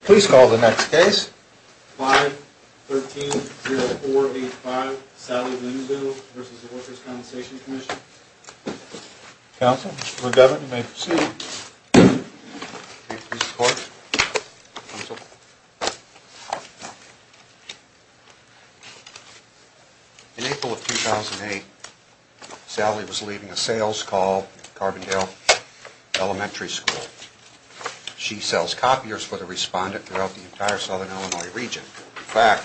Please call the next case. 5-13-0-4-8-5, Sallie Williamsville v. Workers' Compensation Commission. Counsel, Mr. McGovern, you may proceed. May it please the Court, Counsel. In April of 2008, Sallie was leaving a sales call at Carbondale Elementary School. She sells copiers for the respondent throughout the entire Southern Illinois region. In fact,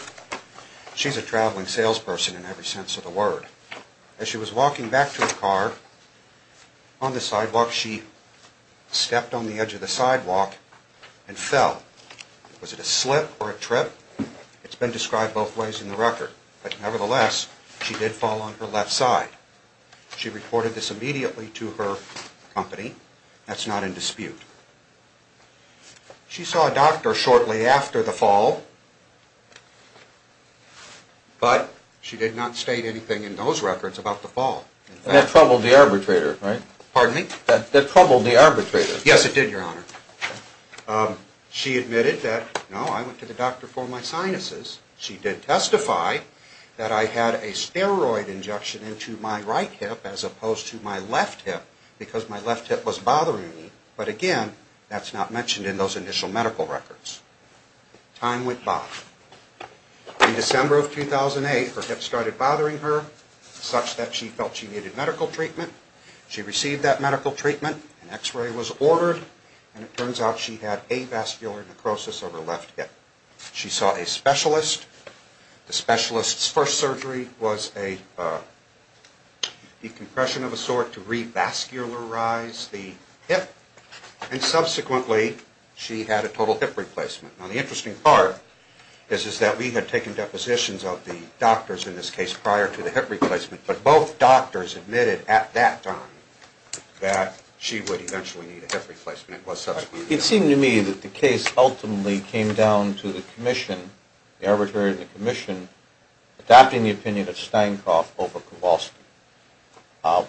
she's a traveling salesperson in every sense of the word. As she was walking back to her car, on the sidewalk, she stepped on the edge of the sidewalk and fell. Was it a slip or a trip? It's been described both ways in the record. But nevertheless, she did fall on her left side. She reported this immediately to her company. That's not in dispute. She saw a doctor shortly after the fall, but she did not state anything in those records about the fall. And that troubled the arbitrator, right? Pardon me? That troubled the arbitrator. Yes, it did, Your Honor. She admitted that, no, I went to the doctor for my sinuses. She did testify that I had a steroid injection into my right hip as opposed to my left hip, because my left hip was bothering me. But again, that's not mentioned in those initial medical records. Time went by. In December of 2008, her hip started bothering her such that she felt she needed medical treatment. She received that medical treatment. An x-ray was ordered, and it turns out she had avascular necrosis of her left hip. She saw a specialist. The specialist's first surgery was a decompression of a sort to revascularize the hip. And subsequently, she had a total hip replacement. Now, the interesting part is that we had taken depositions of the doctors in this case prior to the hip replacement, but both doctors admitted at that time that she would eventually need a hip replacement. It was subsequent. It seemed to me that the case ultimately came down to the commission, the arbitrator and the commission, adopting the opinion of Steinkopf over Kowalski,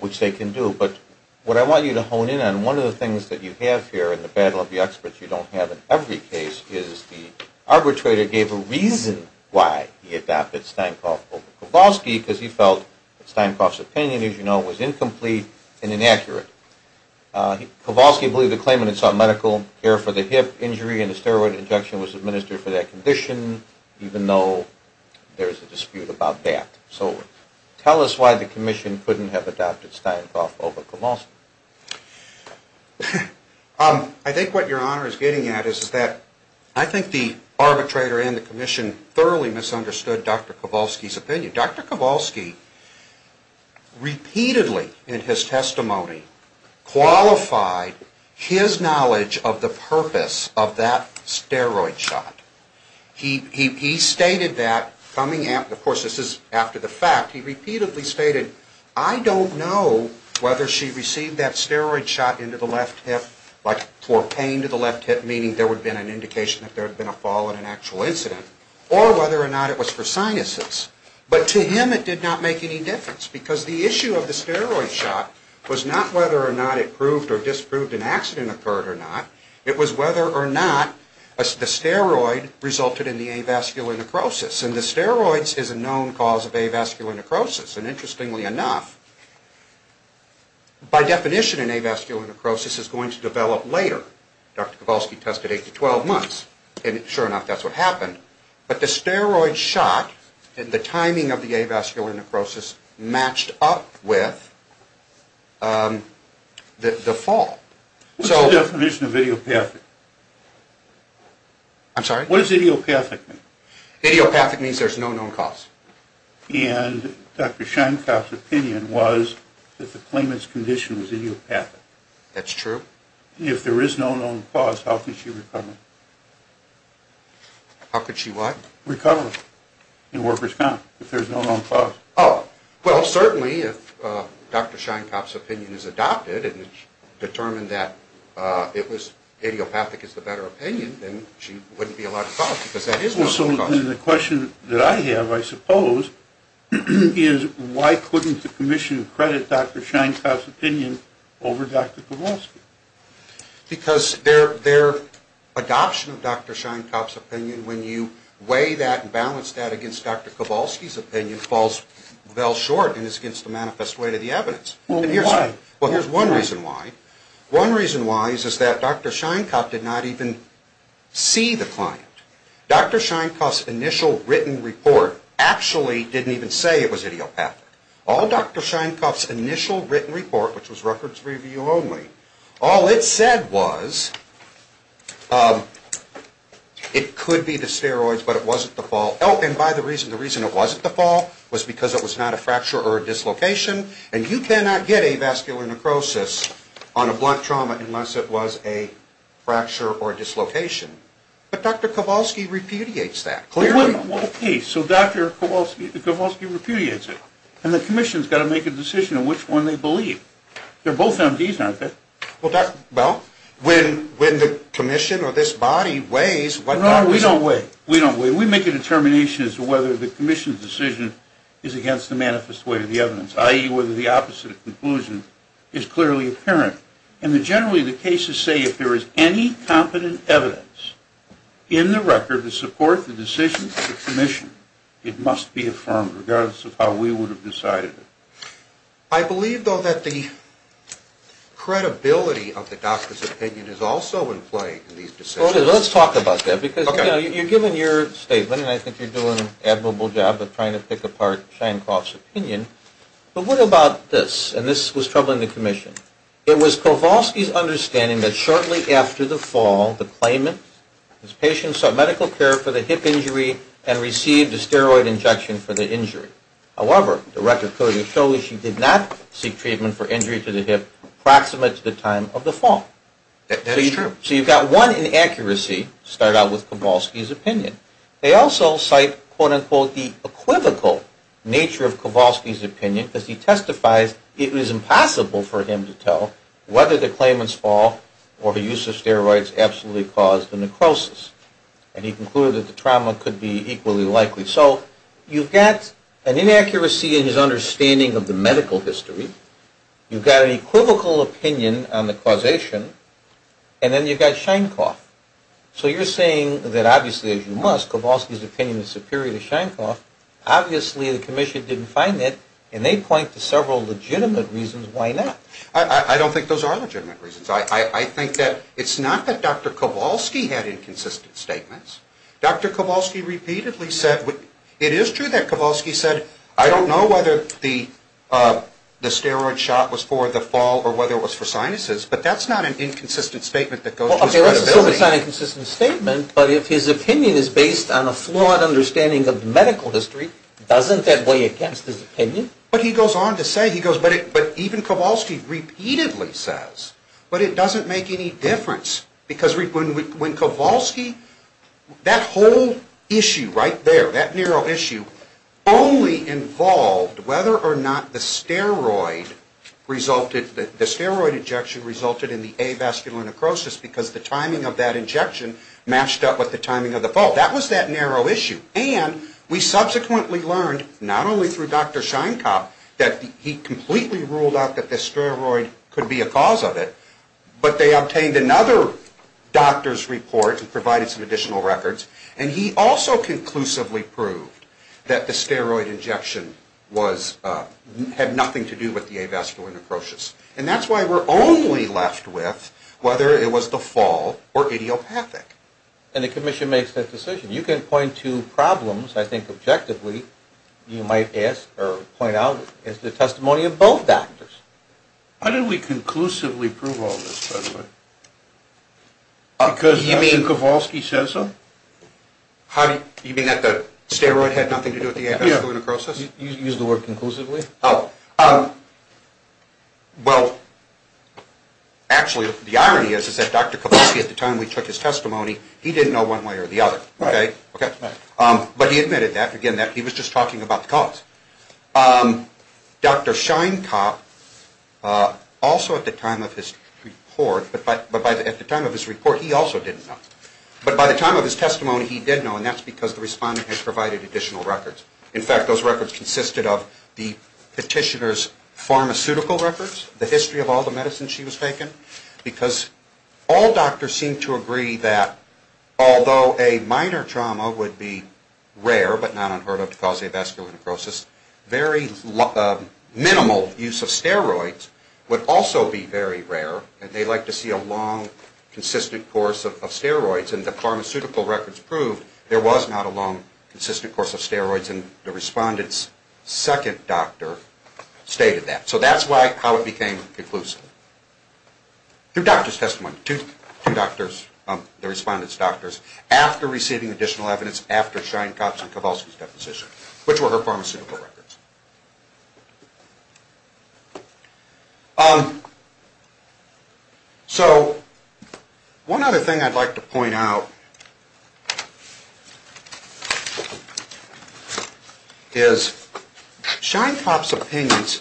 which they can do. But what I want you to hone in on, one of the things that you have here in the battle of the experts you don't have in every case is the arbitrator gave a reason why he adopted Steinkopf over Kowalski, because he felt that Steinkopf's opinion, as you know, was incomplete and inaccurate. Kowalski believed the claimant had sought medical care for the hip injury and a steroid injection was administered for that condition, even though there's a dispute about that. So tell us why the commission couldn't have adopted Steinkopf over Kowalski. I think what your honor is getting at is that I think the arbitrator and the commission thoroughly Dr. Kowalski repeatedly in his testimony qualified his knowledge of the purpose of that steroid shot. He stated that, of course this is after the fact, he repeatedly stated I don't know whether she received that steroid shot into the left hip, like for pain to the left hip, meaning there would have been an indication that there had been a fall in an actual incident, or whether or not it was for sinuses. But to him it did not make any difference, because the issue of the steroid shot was not whether or not it proved or disproved an accident occurred or not, it was whether or not the steroid resulted in the avascular necrosis. And the steroids is a known cause of avascular necrosis, and interestingly enough, by definition an avascular necrosis is going to develop later. Dr. Kowalski tested 8 to 12 months, and sure enough that's what happened. But the steroid shot and the timing of the avascular necrosis matched up with the fall. What's the definition of idiopathic? I'm sorry? What does idiopathic mean? Idiopathic means there's no known cause. And Dr. Steinkopf's opinion was that the claimant's condition was idiopathic. That's true. If there is no known cause, how could she recover? How could she what? Recover in workers' common, if there's no known cause. Oh, well certainly if Dr. Steinkopf's opinion is adopted and it's determined that it was idiopathic is the better opinion, then she wouldn't be allowed to call it, because that is known. So then the question that I have, I suppose, is why couldn't the commission credit Dr. Steinkopf's opinion over Dr. Kowalski? Because their adoption of Dr. Steinkopf's opinion, when you weigh that and balance that against Dr. Kowalski's opinion, falls well short and is against the manifest way to the evidence. Well, here's one reason why. One reason why is that Dr. Steinkopf did not even see the client. Dr. Steinkopf's initial written report actually didn't even say it was idiopathic. All Dr. Steinkopf's initial written report, which was records review only, all it said was it could be the steroids, but it wasn't the fall. Oh, and by the reason, the reason it wasn't the fall was because it was not a fracture or a dislocation, and you cannot get avascular necrosis on a blunt trauma unless it was a fracture or dislocation. But Dr. Kowalski repudiates that, clearly. Well, okay, so Dr. Kowalski repudiates it, and the commission's got to make a decision on which one they believe. They're both MDs, aren't they? Well, well, when the commission or this body weighs what... No, we don't weigh. We don't weigh. We make a determination as to whether the commission's decision is against the manifest way to the evidence, i.e., whether the opposite of conclusion is clearly apparent. And generally, the cases say if there is any competent evidence in the record to support the decision of the commission, it must be affirmed, regardless of how we would have decided it. I believe, though, that the credibility of the doctor's opinion is also in play in these decisions. Let's talk about that, because, you know, you've given your statement, and I think you're doing an admirable job of trying to pick apart Sheinkopf's opinion, but what about this? And this was troubling the commission. It was Kowalski's understanding that shortly after the fall, the claimant's patients saw medical care for the hip injury and received a steroid injection for the injury. However, the record clearly shows she did not seek treatment for injury to the hip approximate to the time of the fall. That is true. So you've got one inaccuracy to start out with Kowalski's opinion. They also cite, quote, unquote, the equivocal nature of Kowalski's opinion, because he testifies it was impossible for him to tell whether the claimant's fall or the use of steroids absolutely caused the necrosis. And he concluded that the trauma could be equally likely. So you've got an inaccuracy in his understanding of the medical history. You've got an equivocal opinion on the causation. And then you've got Sheinkopf. So you're saying that, obviously, as you must, Kowalski's opinion is superior to Sheinkopf. Obviously, the commission didn't find that, and they point to several legitimate reasons why not. I don't think those are legitimate reasons. I think that it's not that Dr. Kowalski had inconsistent statements. Dr. Kowalski repeatedly said, it is true that Kowalski said, I don't know whether the steroid shot was for the fall or whether it was for sinuses, but that's not an inconsistent statement that goes to his credibility. Well, if it was an inconsistent statement, but if his opinion is based on a flawed understanding of medical history, doesn't that weigh against his opinion? But he goes on to say, he goes, but even Kowalski repeatedly says, but it doesn't make any difference. Because when Kowalski, that whole issue right there, that narrow issue only involved whether or not the steroid resulted, the steroid injection resulted in the avascular necrosis because the timing of that injection matched up with the timing of the fall. That was that narrow issue. And we subsequently learned, not only through Dr. Sheinkopf, that he completely ruled out that the steroid could be a cause of it, but they obtained another doctor's report and provided some additional records, and he also conclusively proved that the steroid injection had nothing to do with the avascular necrosis. And that's why we're only left with whether it was the fall or idiopathic. And the commission makes that decision. You can point to problems, I think objectively, you might ask or point out as the testimony of both doctors. How did we conclusively prove all this, by the way? Because you mean Kowalski said so? How do you mean that the steroid had nothing to do with the avascular necrosis? You used the word conclusively. Oh, well, actually, the irony is, is that Dr. Kowalski, at the time we took his testimony, he didn't know one way or the other. Right. Okay. But he admitted that, again, that he was just talking about the cause. Yes. Dr. Sheinkopf, also at the time of his report, but at the time of his report, he also didn't know. But by the time of his testimony, he did know, and that's because the respondent had provided additional records. In fact, those records consisted of the petitioner's pharmaceutical records, the history of all the medicines she was taking, because all doctors seemed to agree that although a minor trauma would be rare, but not unheard of to cause avascular necrosis, very minimal use of steroids would also be very rare, and they like to see a long, consistent course of steroids. And the pharmaceutical records proved there was not a long, consistent course of steroids, and the respondent's second doctor stated that. So that's how it became conclusive. After receiving additional evidence after Sheinkopf's and Kowalski's deposition, which were her pharmaceutical records. So one other thing I'd like to point out is Sheinkopf's opinions,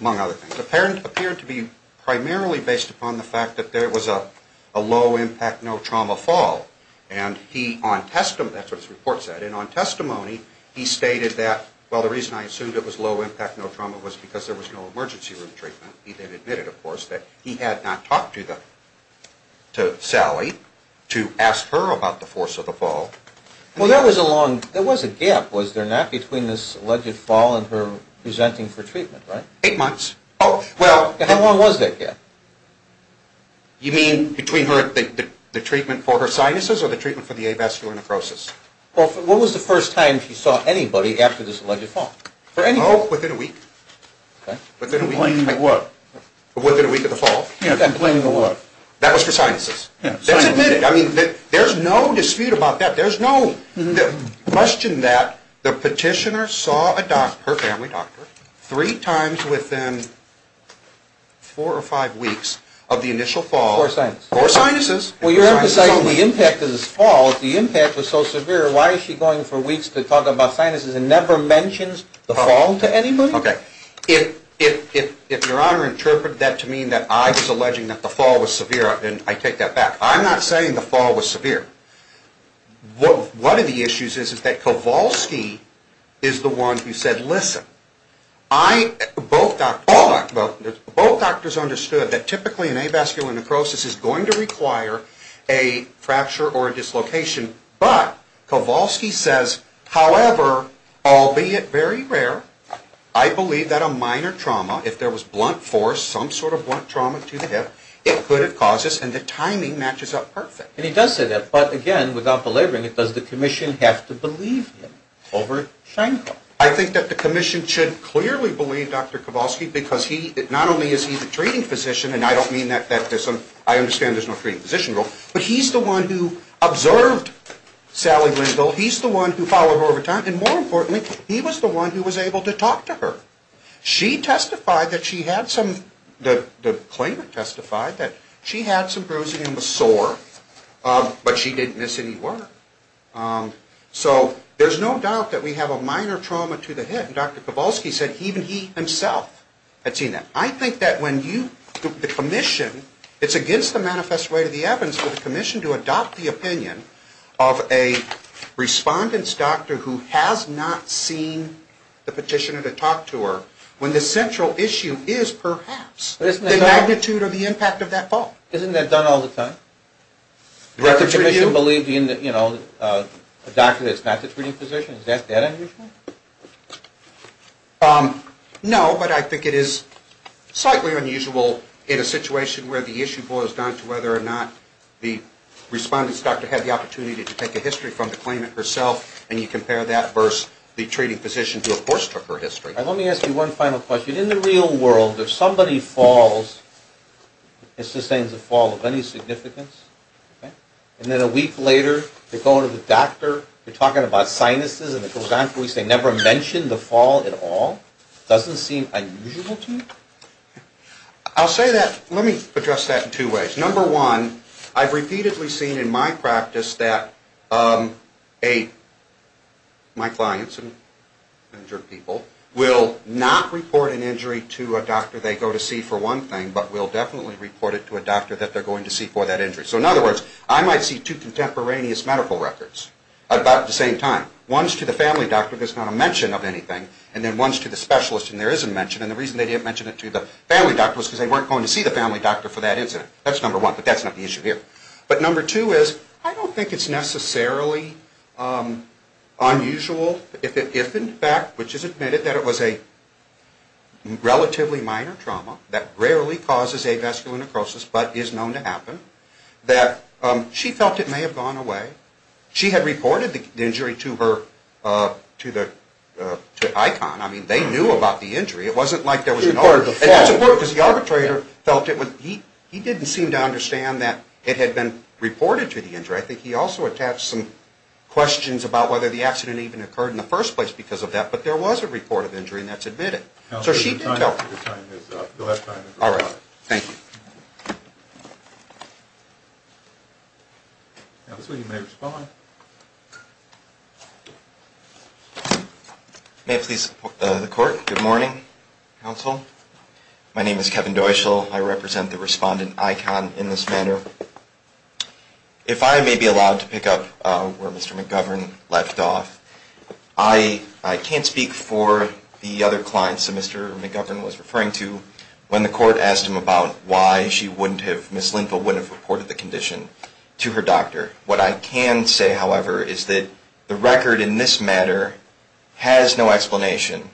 among other things, appeared to be primarily based upon the fact that there was a low-impact, no-trauma fall and he on testimony, that's what his report said, and on testimony he stated that, well, the reason I assumed it was low-impact, no-trauma was because there was no emergency room treatment. He then admitted, of course, that he had not talked to Sally to ask her about the force of the fall. Well, there was a gap, was there not, between this alleged fall and her presenting for treatment, right? Eight months. Oh, how long was that gap? You mean between the treatment for her sinuses or the treatment for the avascular necrosis? Well, what was the first time she saw anybody after this alleged fall? Oh, within a week. Within a week, like what? Within a week of the fall. Yeah, that blame the what? That was for sinuses. That's admitted. I mean, there's no dispute about that. There's no question that the petitioner saw her family doctor three times within four or five weeks of the initial fall. Four sinuses. Four sinuses. Well, you're emphasizing the impact of this fall. If the impact was so severe, why is she going for weeks to talk about sinuses and never mentions the fall to anybody? Okay, if Your Honor interpreted that to mean that I was alleging that the fall was severe, then I take that back. I'm not saying the fall was severe. One of the issues is that Kowalski is the one who said, listen, both doctors understood that typically an avascular necrosis is going to require a fracture or a dislocation, but Kowalski says, however, albeit very rare, I believe that a minor trauma, if there was blunt force, some sort of blunt trauma to the hip, it could have caused this and the timing matches up perfect. And he does say that, but again, without belaboring it, does the commission have to believe him over Schenkel? I think that the commission should clearly believe Dr. Kowalski because he, not only is he the treating physician, and I don't mean that there's some, I understand there's no treating physician rule, but he's the one who observed Sally Lindville, he's the one who followed her over time, and more importantly, he was the one who was able to talk to her. She testified that she had some, the claimant testified that she had some bruising and was sore, but she didn't miss any word. So there's no doubt that we have a minor trauma to the hip, and Dr. Kowalski said even he himself had seen that. I think that when you, the commission, it's against the manifest way to the evidence for the commission to adopt the opinion of a respondent's doctor who has not seen the petitioner to talk to her, when the central issue is perhaps the magnitude or the impact of that fault. Isn't that done all the time? Does the commission believe, you know, a doctor that's not the treating physician, is that that unusual? No, but I think it is slightly unusual in a situation where the issue boils down to whether or not the respondent's doctor had the opportunity to take a history from the claimant herself, and you compare that versus the treating physician who, of course, took her history. Let me ask you one final question. In the real world, if somebody falls, and sustains a fall of any significance, and then a week later, they go to the doctor, they're talking about sinuses, and it goes on for weeks, they never mention the fall at all, doesn't seem unusual to you? I'll say that, let me address that in two ways. Number one, I've repeatedly seen in my practice that my clients and injured people will not report an injury to a doctor they go to see for one thing, but will definitely report it to a doctor that they're going to see for that injury. So in other words, I might see two contemporaneous medical records about the same time. One's to the family doctor that's not a mention of anything, and then one's to the specialist, and there is a mention, and the reason they didn't mention it to the family doctor was because they weren't going to see the family doctor for that incident. That's number one, but that's not the issue here. But number two is, I don't think it's necessarily unusual if, in fact, which is admitted that it was a relatively minor trauma that rarely causes avascular necrosis, but is known to happen, that she felt it may have gone away. She had reported the injury to ICON. I mean, they knew about the injury. It wasn't like there was an argument. And that's important, because the arbitrator felt it was, he didn't seem to understand that it had been reported to the injury. I think he also attached some questions about whether the accident even occurred in the first place because of that, but there was a report of injury, and that's admitted. Counsel, your time is up. You'll have time to respond. All right, thank you. Counsel, you may respond. May I please report to the court? Good morning, counsel. My name is Kevin Deuschel. I represent the respondent, ICON, in this manner. If I may be allowed to pick up where Mr. McGovern left off, I can't speak for the other clients that Mr. McGovern was referring to when the court asked him about why Ms. Lindvall wouldn't have reported the condition to her doctor. What I can say, however, is that the record in this matter has no explanation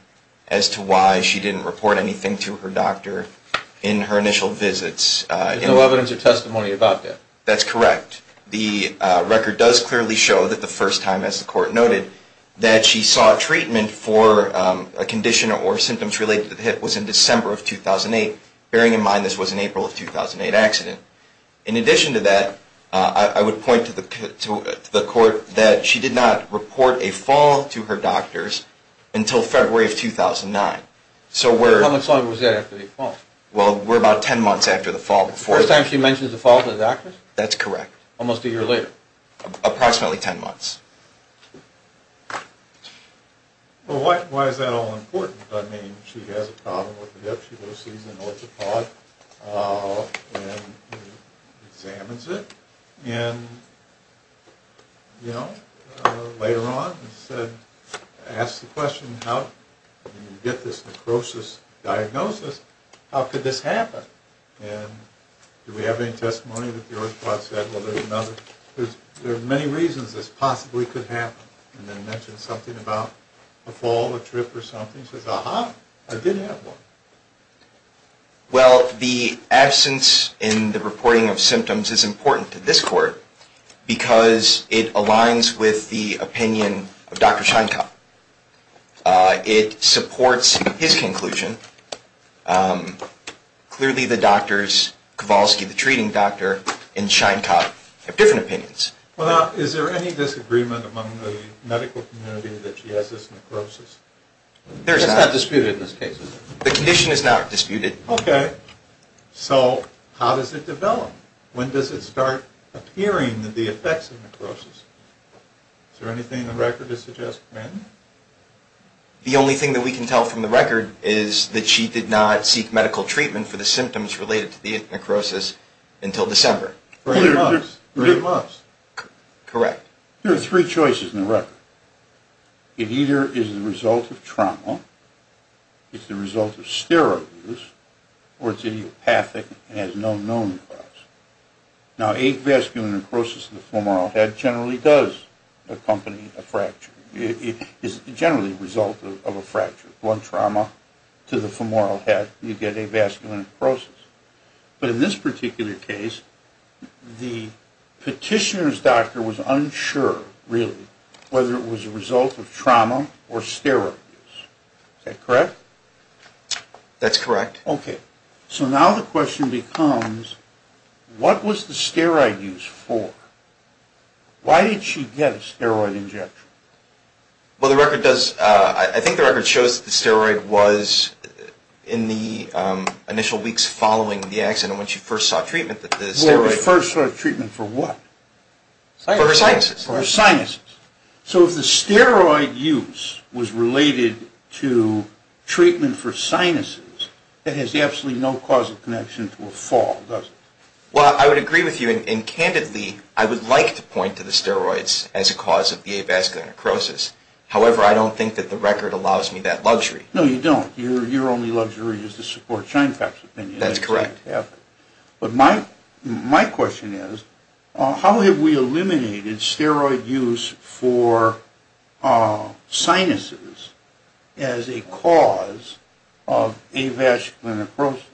as to why she didn't report anything to her doctor in her initial visits. There's no evidence or testimony about that. That's correct. The record does clearly show that the first time, as the court noted, that she sought treatment for a condition or symptoms related to the hip was in December of 2008, bearing in mind this was an April of 2008 accident. In addition to that, I would point to the court that she did not report a fall to her doctors until February of 2009. How much longer was that after the fall? Well, we're about 10 months after the fall before. The first time she mentioned the fall to the doctors? That's correct. Almost a year later? Approximately 10 months. Well, why is that all important? I mean, she has a problem with the hip. She goes and sees an orthopod and examines it. And, you know, later on, she said, asked the question, how did you get this necrosis diagnosis? How could this happen? And do we have any testimony that the orthopod said, well, there's another? Because there are many reasons this possibly could happen. And then mentioned something about a fall, a trip or something. She says, aha, I did have one. Well, the absence in the reporting of symptoms is important to this court because it aligns with the opinion of Dr. Sheinkopf. It supports his conclusion. Clearly the doctors, Kowalski, the treating doctor and Sheinkopf have different opinions. Well, now, is there any disagreement among the medical community that she has this necrosis? It's not disputed in this case. The condition is not disputed. Okay. So how does it develop? When does it start appearing that the effects of necrosis? Is there anything in the record to suggest when? The only thing that we can tell from the record is that she did not seek medical treatment for the symptoms related to the necrosis until December. Correct. Correct. There are three choices in the record. It either is the result of trauma, it's the result of steroid use or it's idiopathic and has no known cause. Now, avascular necrosis in the femoral head generally does accompany a fracture. It is generally a result of a fracture. One trauma to the femoral head, you get avascular necrosis. But in this particular case, the petitioner's doctor was unsure really whether it was a result of trauma or steroid use. Is that correct? That's correct. Okay. So now the question becomes what was the steroid use for? Why did she get a steroid injection? Well, the record does, I think the record shows that the steroid was in the initial weeks following the accident when she first saw treatment for the first sort of treatment for what? For her sinuses. For her sinuses. So if the steroid use was related to treatment for sinuses, it has absolutely no causal connection to a fall, does it? Well, I would agree with you. And candidly, I would like to point to the steroids as a cause of the avascular necrosis. However, I don't think that the record allows me that luxury. No, you don't. Your only luxury is to support ShineFact's opinion. That's correct. But my question is, how have we eliminated steroid use for sinuses as a cause of avascular necrosis?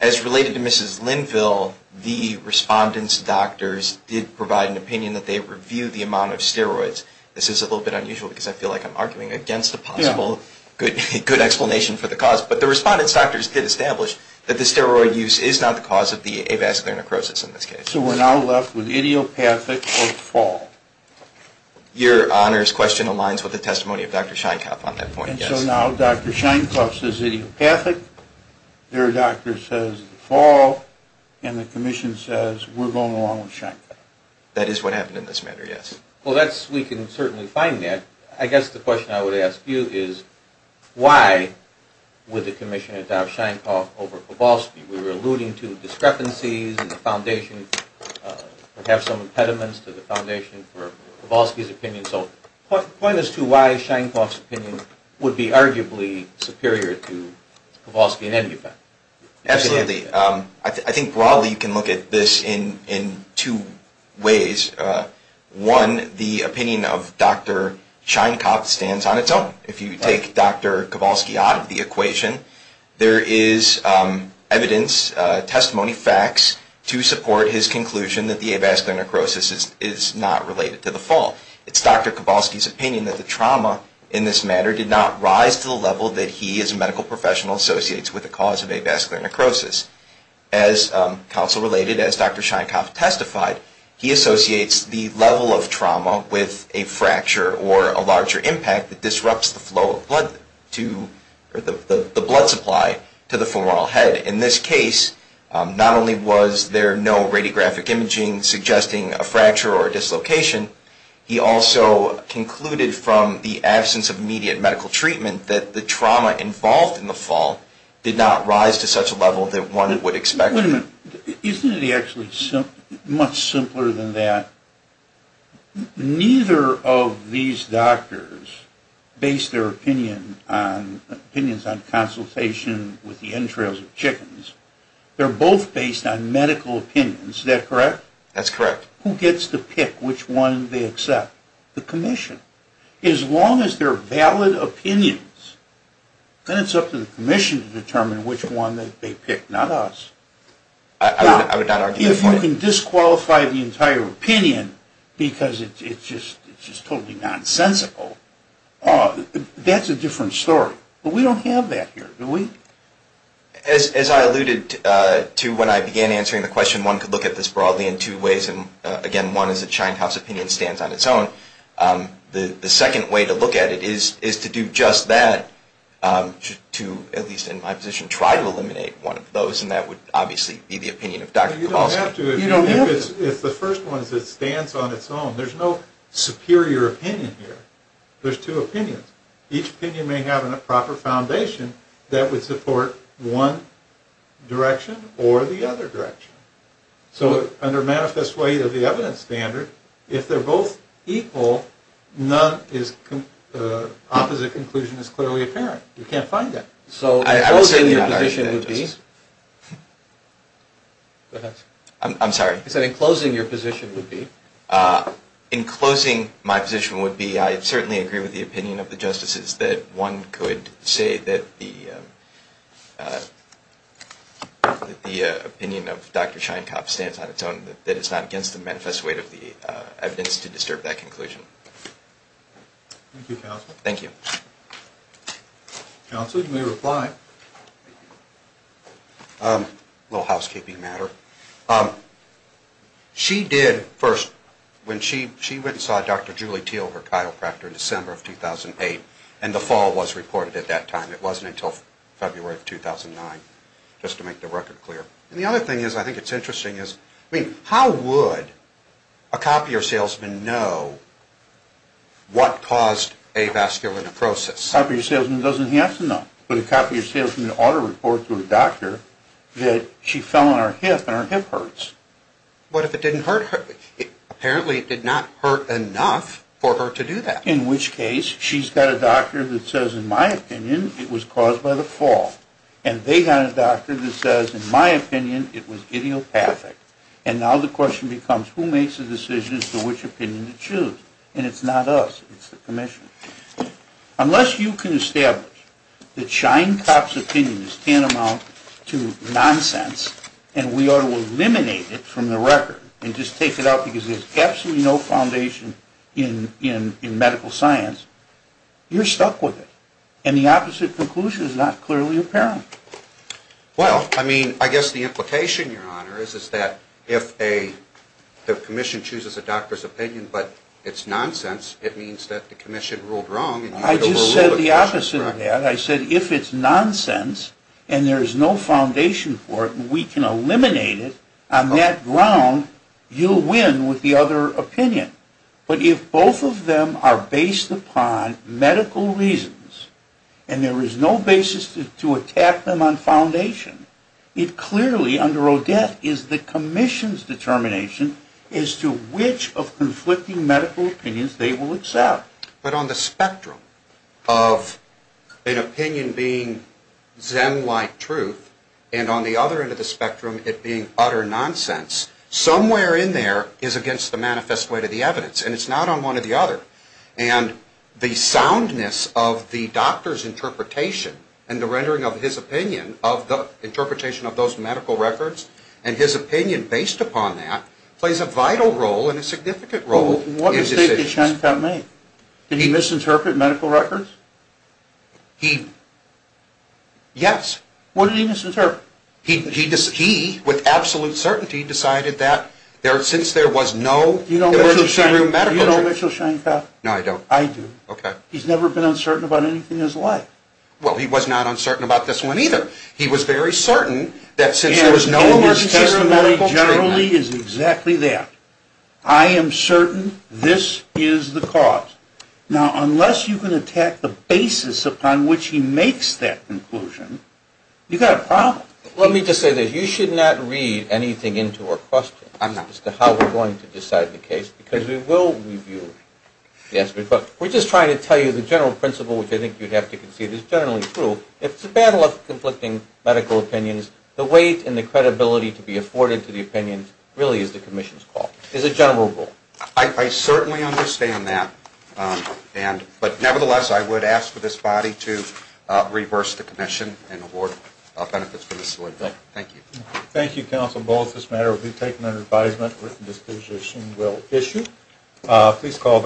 As related to Mrs. Linville, the respondent's doctors did provide an opinion that they reviewed the amount of steroids. This is a little bit unusual because I feel like I'm arguing against a possible good explanation for the cause. But the respondent's doctors did establish that the steroid use is not the cause of the avascular necrosis in this case. So we're now left with idiopathic or fall? Your Honor's question aligns with the testimony of Dr. Sheinkopf on that point, yes. And so now Dr. Sheinkopf says idiopathic, their doctor says fall, and the Commission says we're going along with Sheinkopf. That is what happened in this matter, yes. Well, we can certainly find that. I guess the question I would ask you is, why would the Commission adopt Sheinkopf over Kowalski? We were alluding to discrepancies in the foundation. We have some impediments to the foundation for Kowalski's opinion. So point us to why Sheinkopf's opinion would be arguably superior to Kowalski in any event. Absolutely. I think broadly you can look at this in two ways. One, the opinion of Dr. Sheinkopf stands on its own. If you take Dr. Kowalski out of the equation, there is evidence, testimony, facts to support his conclusion that the avascular necrosis is not related to the fall. It's Dr. Kowalski's opinion that the trauma in this matter did not rise to the level that he as a medical professional associates with the cause of avascular necrosis. As counsel related, as Dr. Sheinkopf testified, he associates the level of trauma with a fracture or a larger impact that disrupts the flow of blood to, or the blood supply to the femoral head. In this case, not only was there no radiographic imaging suggesting a fracture or a dislocation, he also concluded from the absence of immediate medical treatment that the trauma involved in the fall did not rise to such a level that one would expect. Wait a minute. Isn't it actually much simpler than that? Neither of these doctors base their opinions on consultation with the entrails of chickens. They're both based on medical opinions. Is that correct? That's correct. Who gets to pick which one they accept? The commission. As long as they're valid opinions, then it's up to the commission to determine which one that they pick, not us. I would not argue that point. If you can disqualify the entire opinion, because it's just totally nonsensical, that's a different story. But we don't have that here, do we? As I alluded to when I began answering the question, one could look at this broadly in two ways, and again, one is that Shinehouse's opinion stands on its own. The second way to look at it is to do just that, to, at least in my position, try to eliminate one of those, and that would obviously be the opinion of Dr. Kovalsky. You don't have to. If the first one is it stands on its own, there's no superior opinion here. There's two opinions. Each opinion may have a proper foundation that would support one direction or the other direction. So under manifest weight of the evidence standard, if they're both equal, none is, opposite conclusion is clearly apparent. You can't find that. So I would say your position would be... I'm sorry. In closing, your position would be? In closing, my position would be, I certainly agree with the opinion of the justices that one could say that the opinion of Dr. Sheinkopf stands on its own, that it's not against the manifest weight of the evidence to disturb that conclusion. Thank you, Counsel. Thank you. Counsel, you may reply. A little housekeeping matter. She did first, when she went and saw Dr. Julie Thiel, her chiropractor, in December of 2008, and the fall was reported at that time. It wasn't until February of 2009, just to make the record clear. And the other thing is, I think it's interesting, is, I mean, how would a copier salesman know what caused avascular neprosis? A copier salesman doesn't have to know. But a copier salesman ought to report to a doctor that she fell on her hip and her hip hurts. What if it didn't hurt her? Apparently it did not hurt enough for her to do that. In which case, she's got a doctor that says, in my opinion, it was caused by the fall. And they got a doctor that says, in my opinion, it was idiopathic. And now the question becomes, who makes the decisions to which opinion to choose? And it's not us. It's the commission. Unless you can establish that shying cop's opinion is tantamount to nonsense, and we ought to eliminate it from the record, and just take it out because there's absolutely no foundation in medical science, you're stuck with it. And the opposite conclusion is not clearly apparent. Well, I mean, I guess the implication, Your Honor, is that if a commission chooses a doctor's opinion, but it's nonsense, it means that the commission ruled wrong. I just said the opposite of that. I said if it's nonsense and there is no foundation for it, we can eliminate it. On that ground, you'll win with the other opinion. But if both of them are based upon medical reasons, and there is no basis to attack them on foundation, it clearly, under Odette, is the commission's determination as to which of conflicting medical opinions they will accept. But on the spectrum of an opinion being zem-like truth, and on the other end of the spectrum, it being utter nonsense, somewhere in there is against the manifest way to the evidence. And it's not on one or the other. And the soundness of the doctor's interpretation and the rendering of his opinion of the interpretation of those medical records, and his opinion based upon that, plays a vital role and a significant role in decisions. What mistake did Shantel make? Did he misinterpret medical records? He... Yes. What did he misinterpret? He, with absolute certainty, decided that since there was no emergency room medical... Do you know Mitchell Shantel? No, I don't. I do. Okay. He's never been uncertain about anything in his life. Well, he was not uncertain about this one either. He was very certain that since there was no... And his testimony generally is exactly that. I am certain this is the cause. Now, unless you can attack the basis upon which he makes that conclusion, you've got a problem. Let me just say this. You should not read anything into our question. As to how we're going to decide the case, because we will review the answer. We're just trying to tell you the general principle, which I think you'd have to concede is generally true. If it's a battle of conflicting medical opinions, the weight and the credibility to be afforded to the opinion really is the commission's call. It's a general rule. I certainly understand that. But nevertheless, I would ask for this body to reverse the commission and award benefits for this sort of thing. Thank you. Thank you, Counsel Bullock. This matter will be taken under advisement. Written disposition will issue. Please call.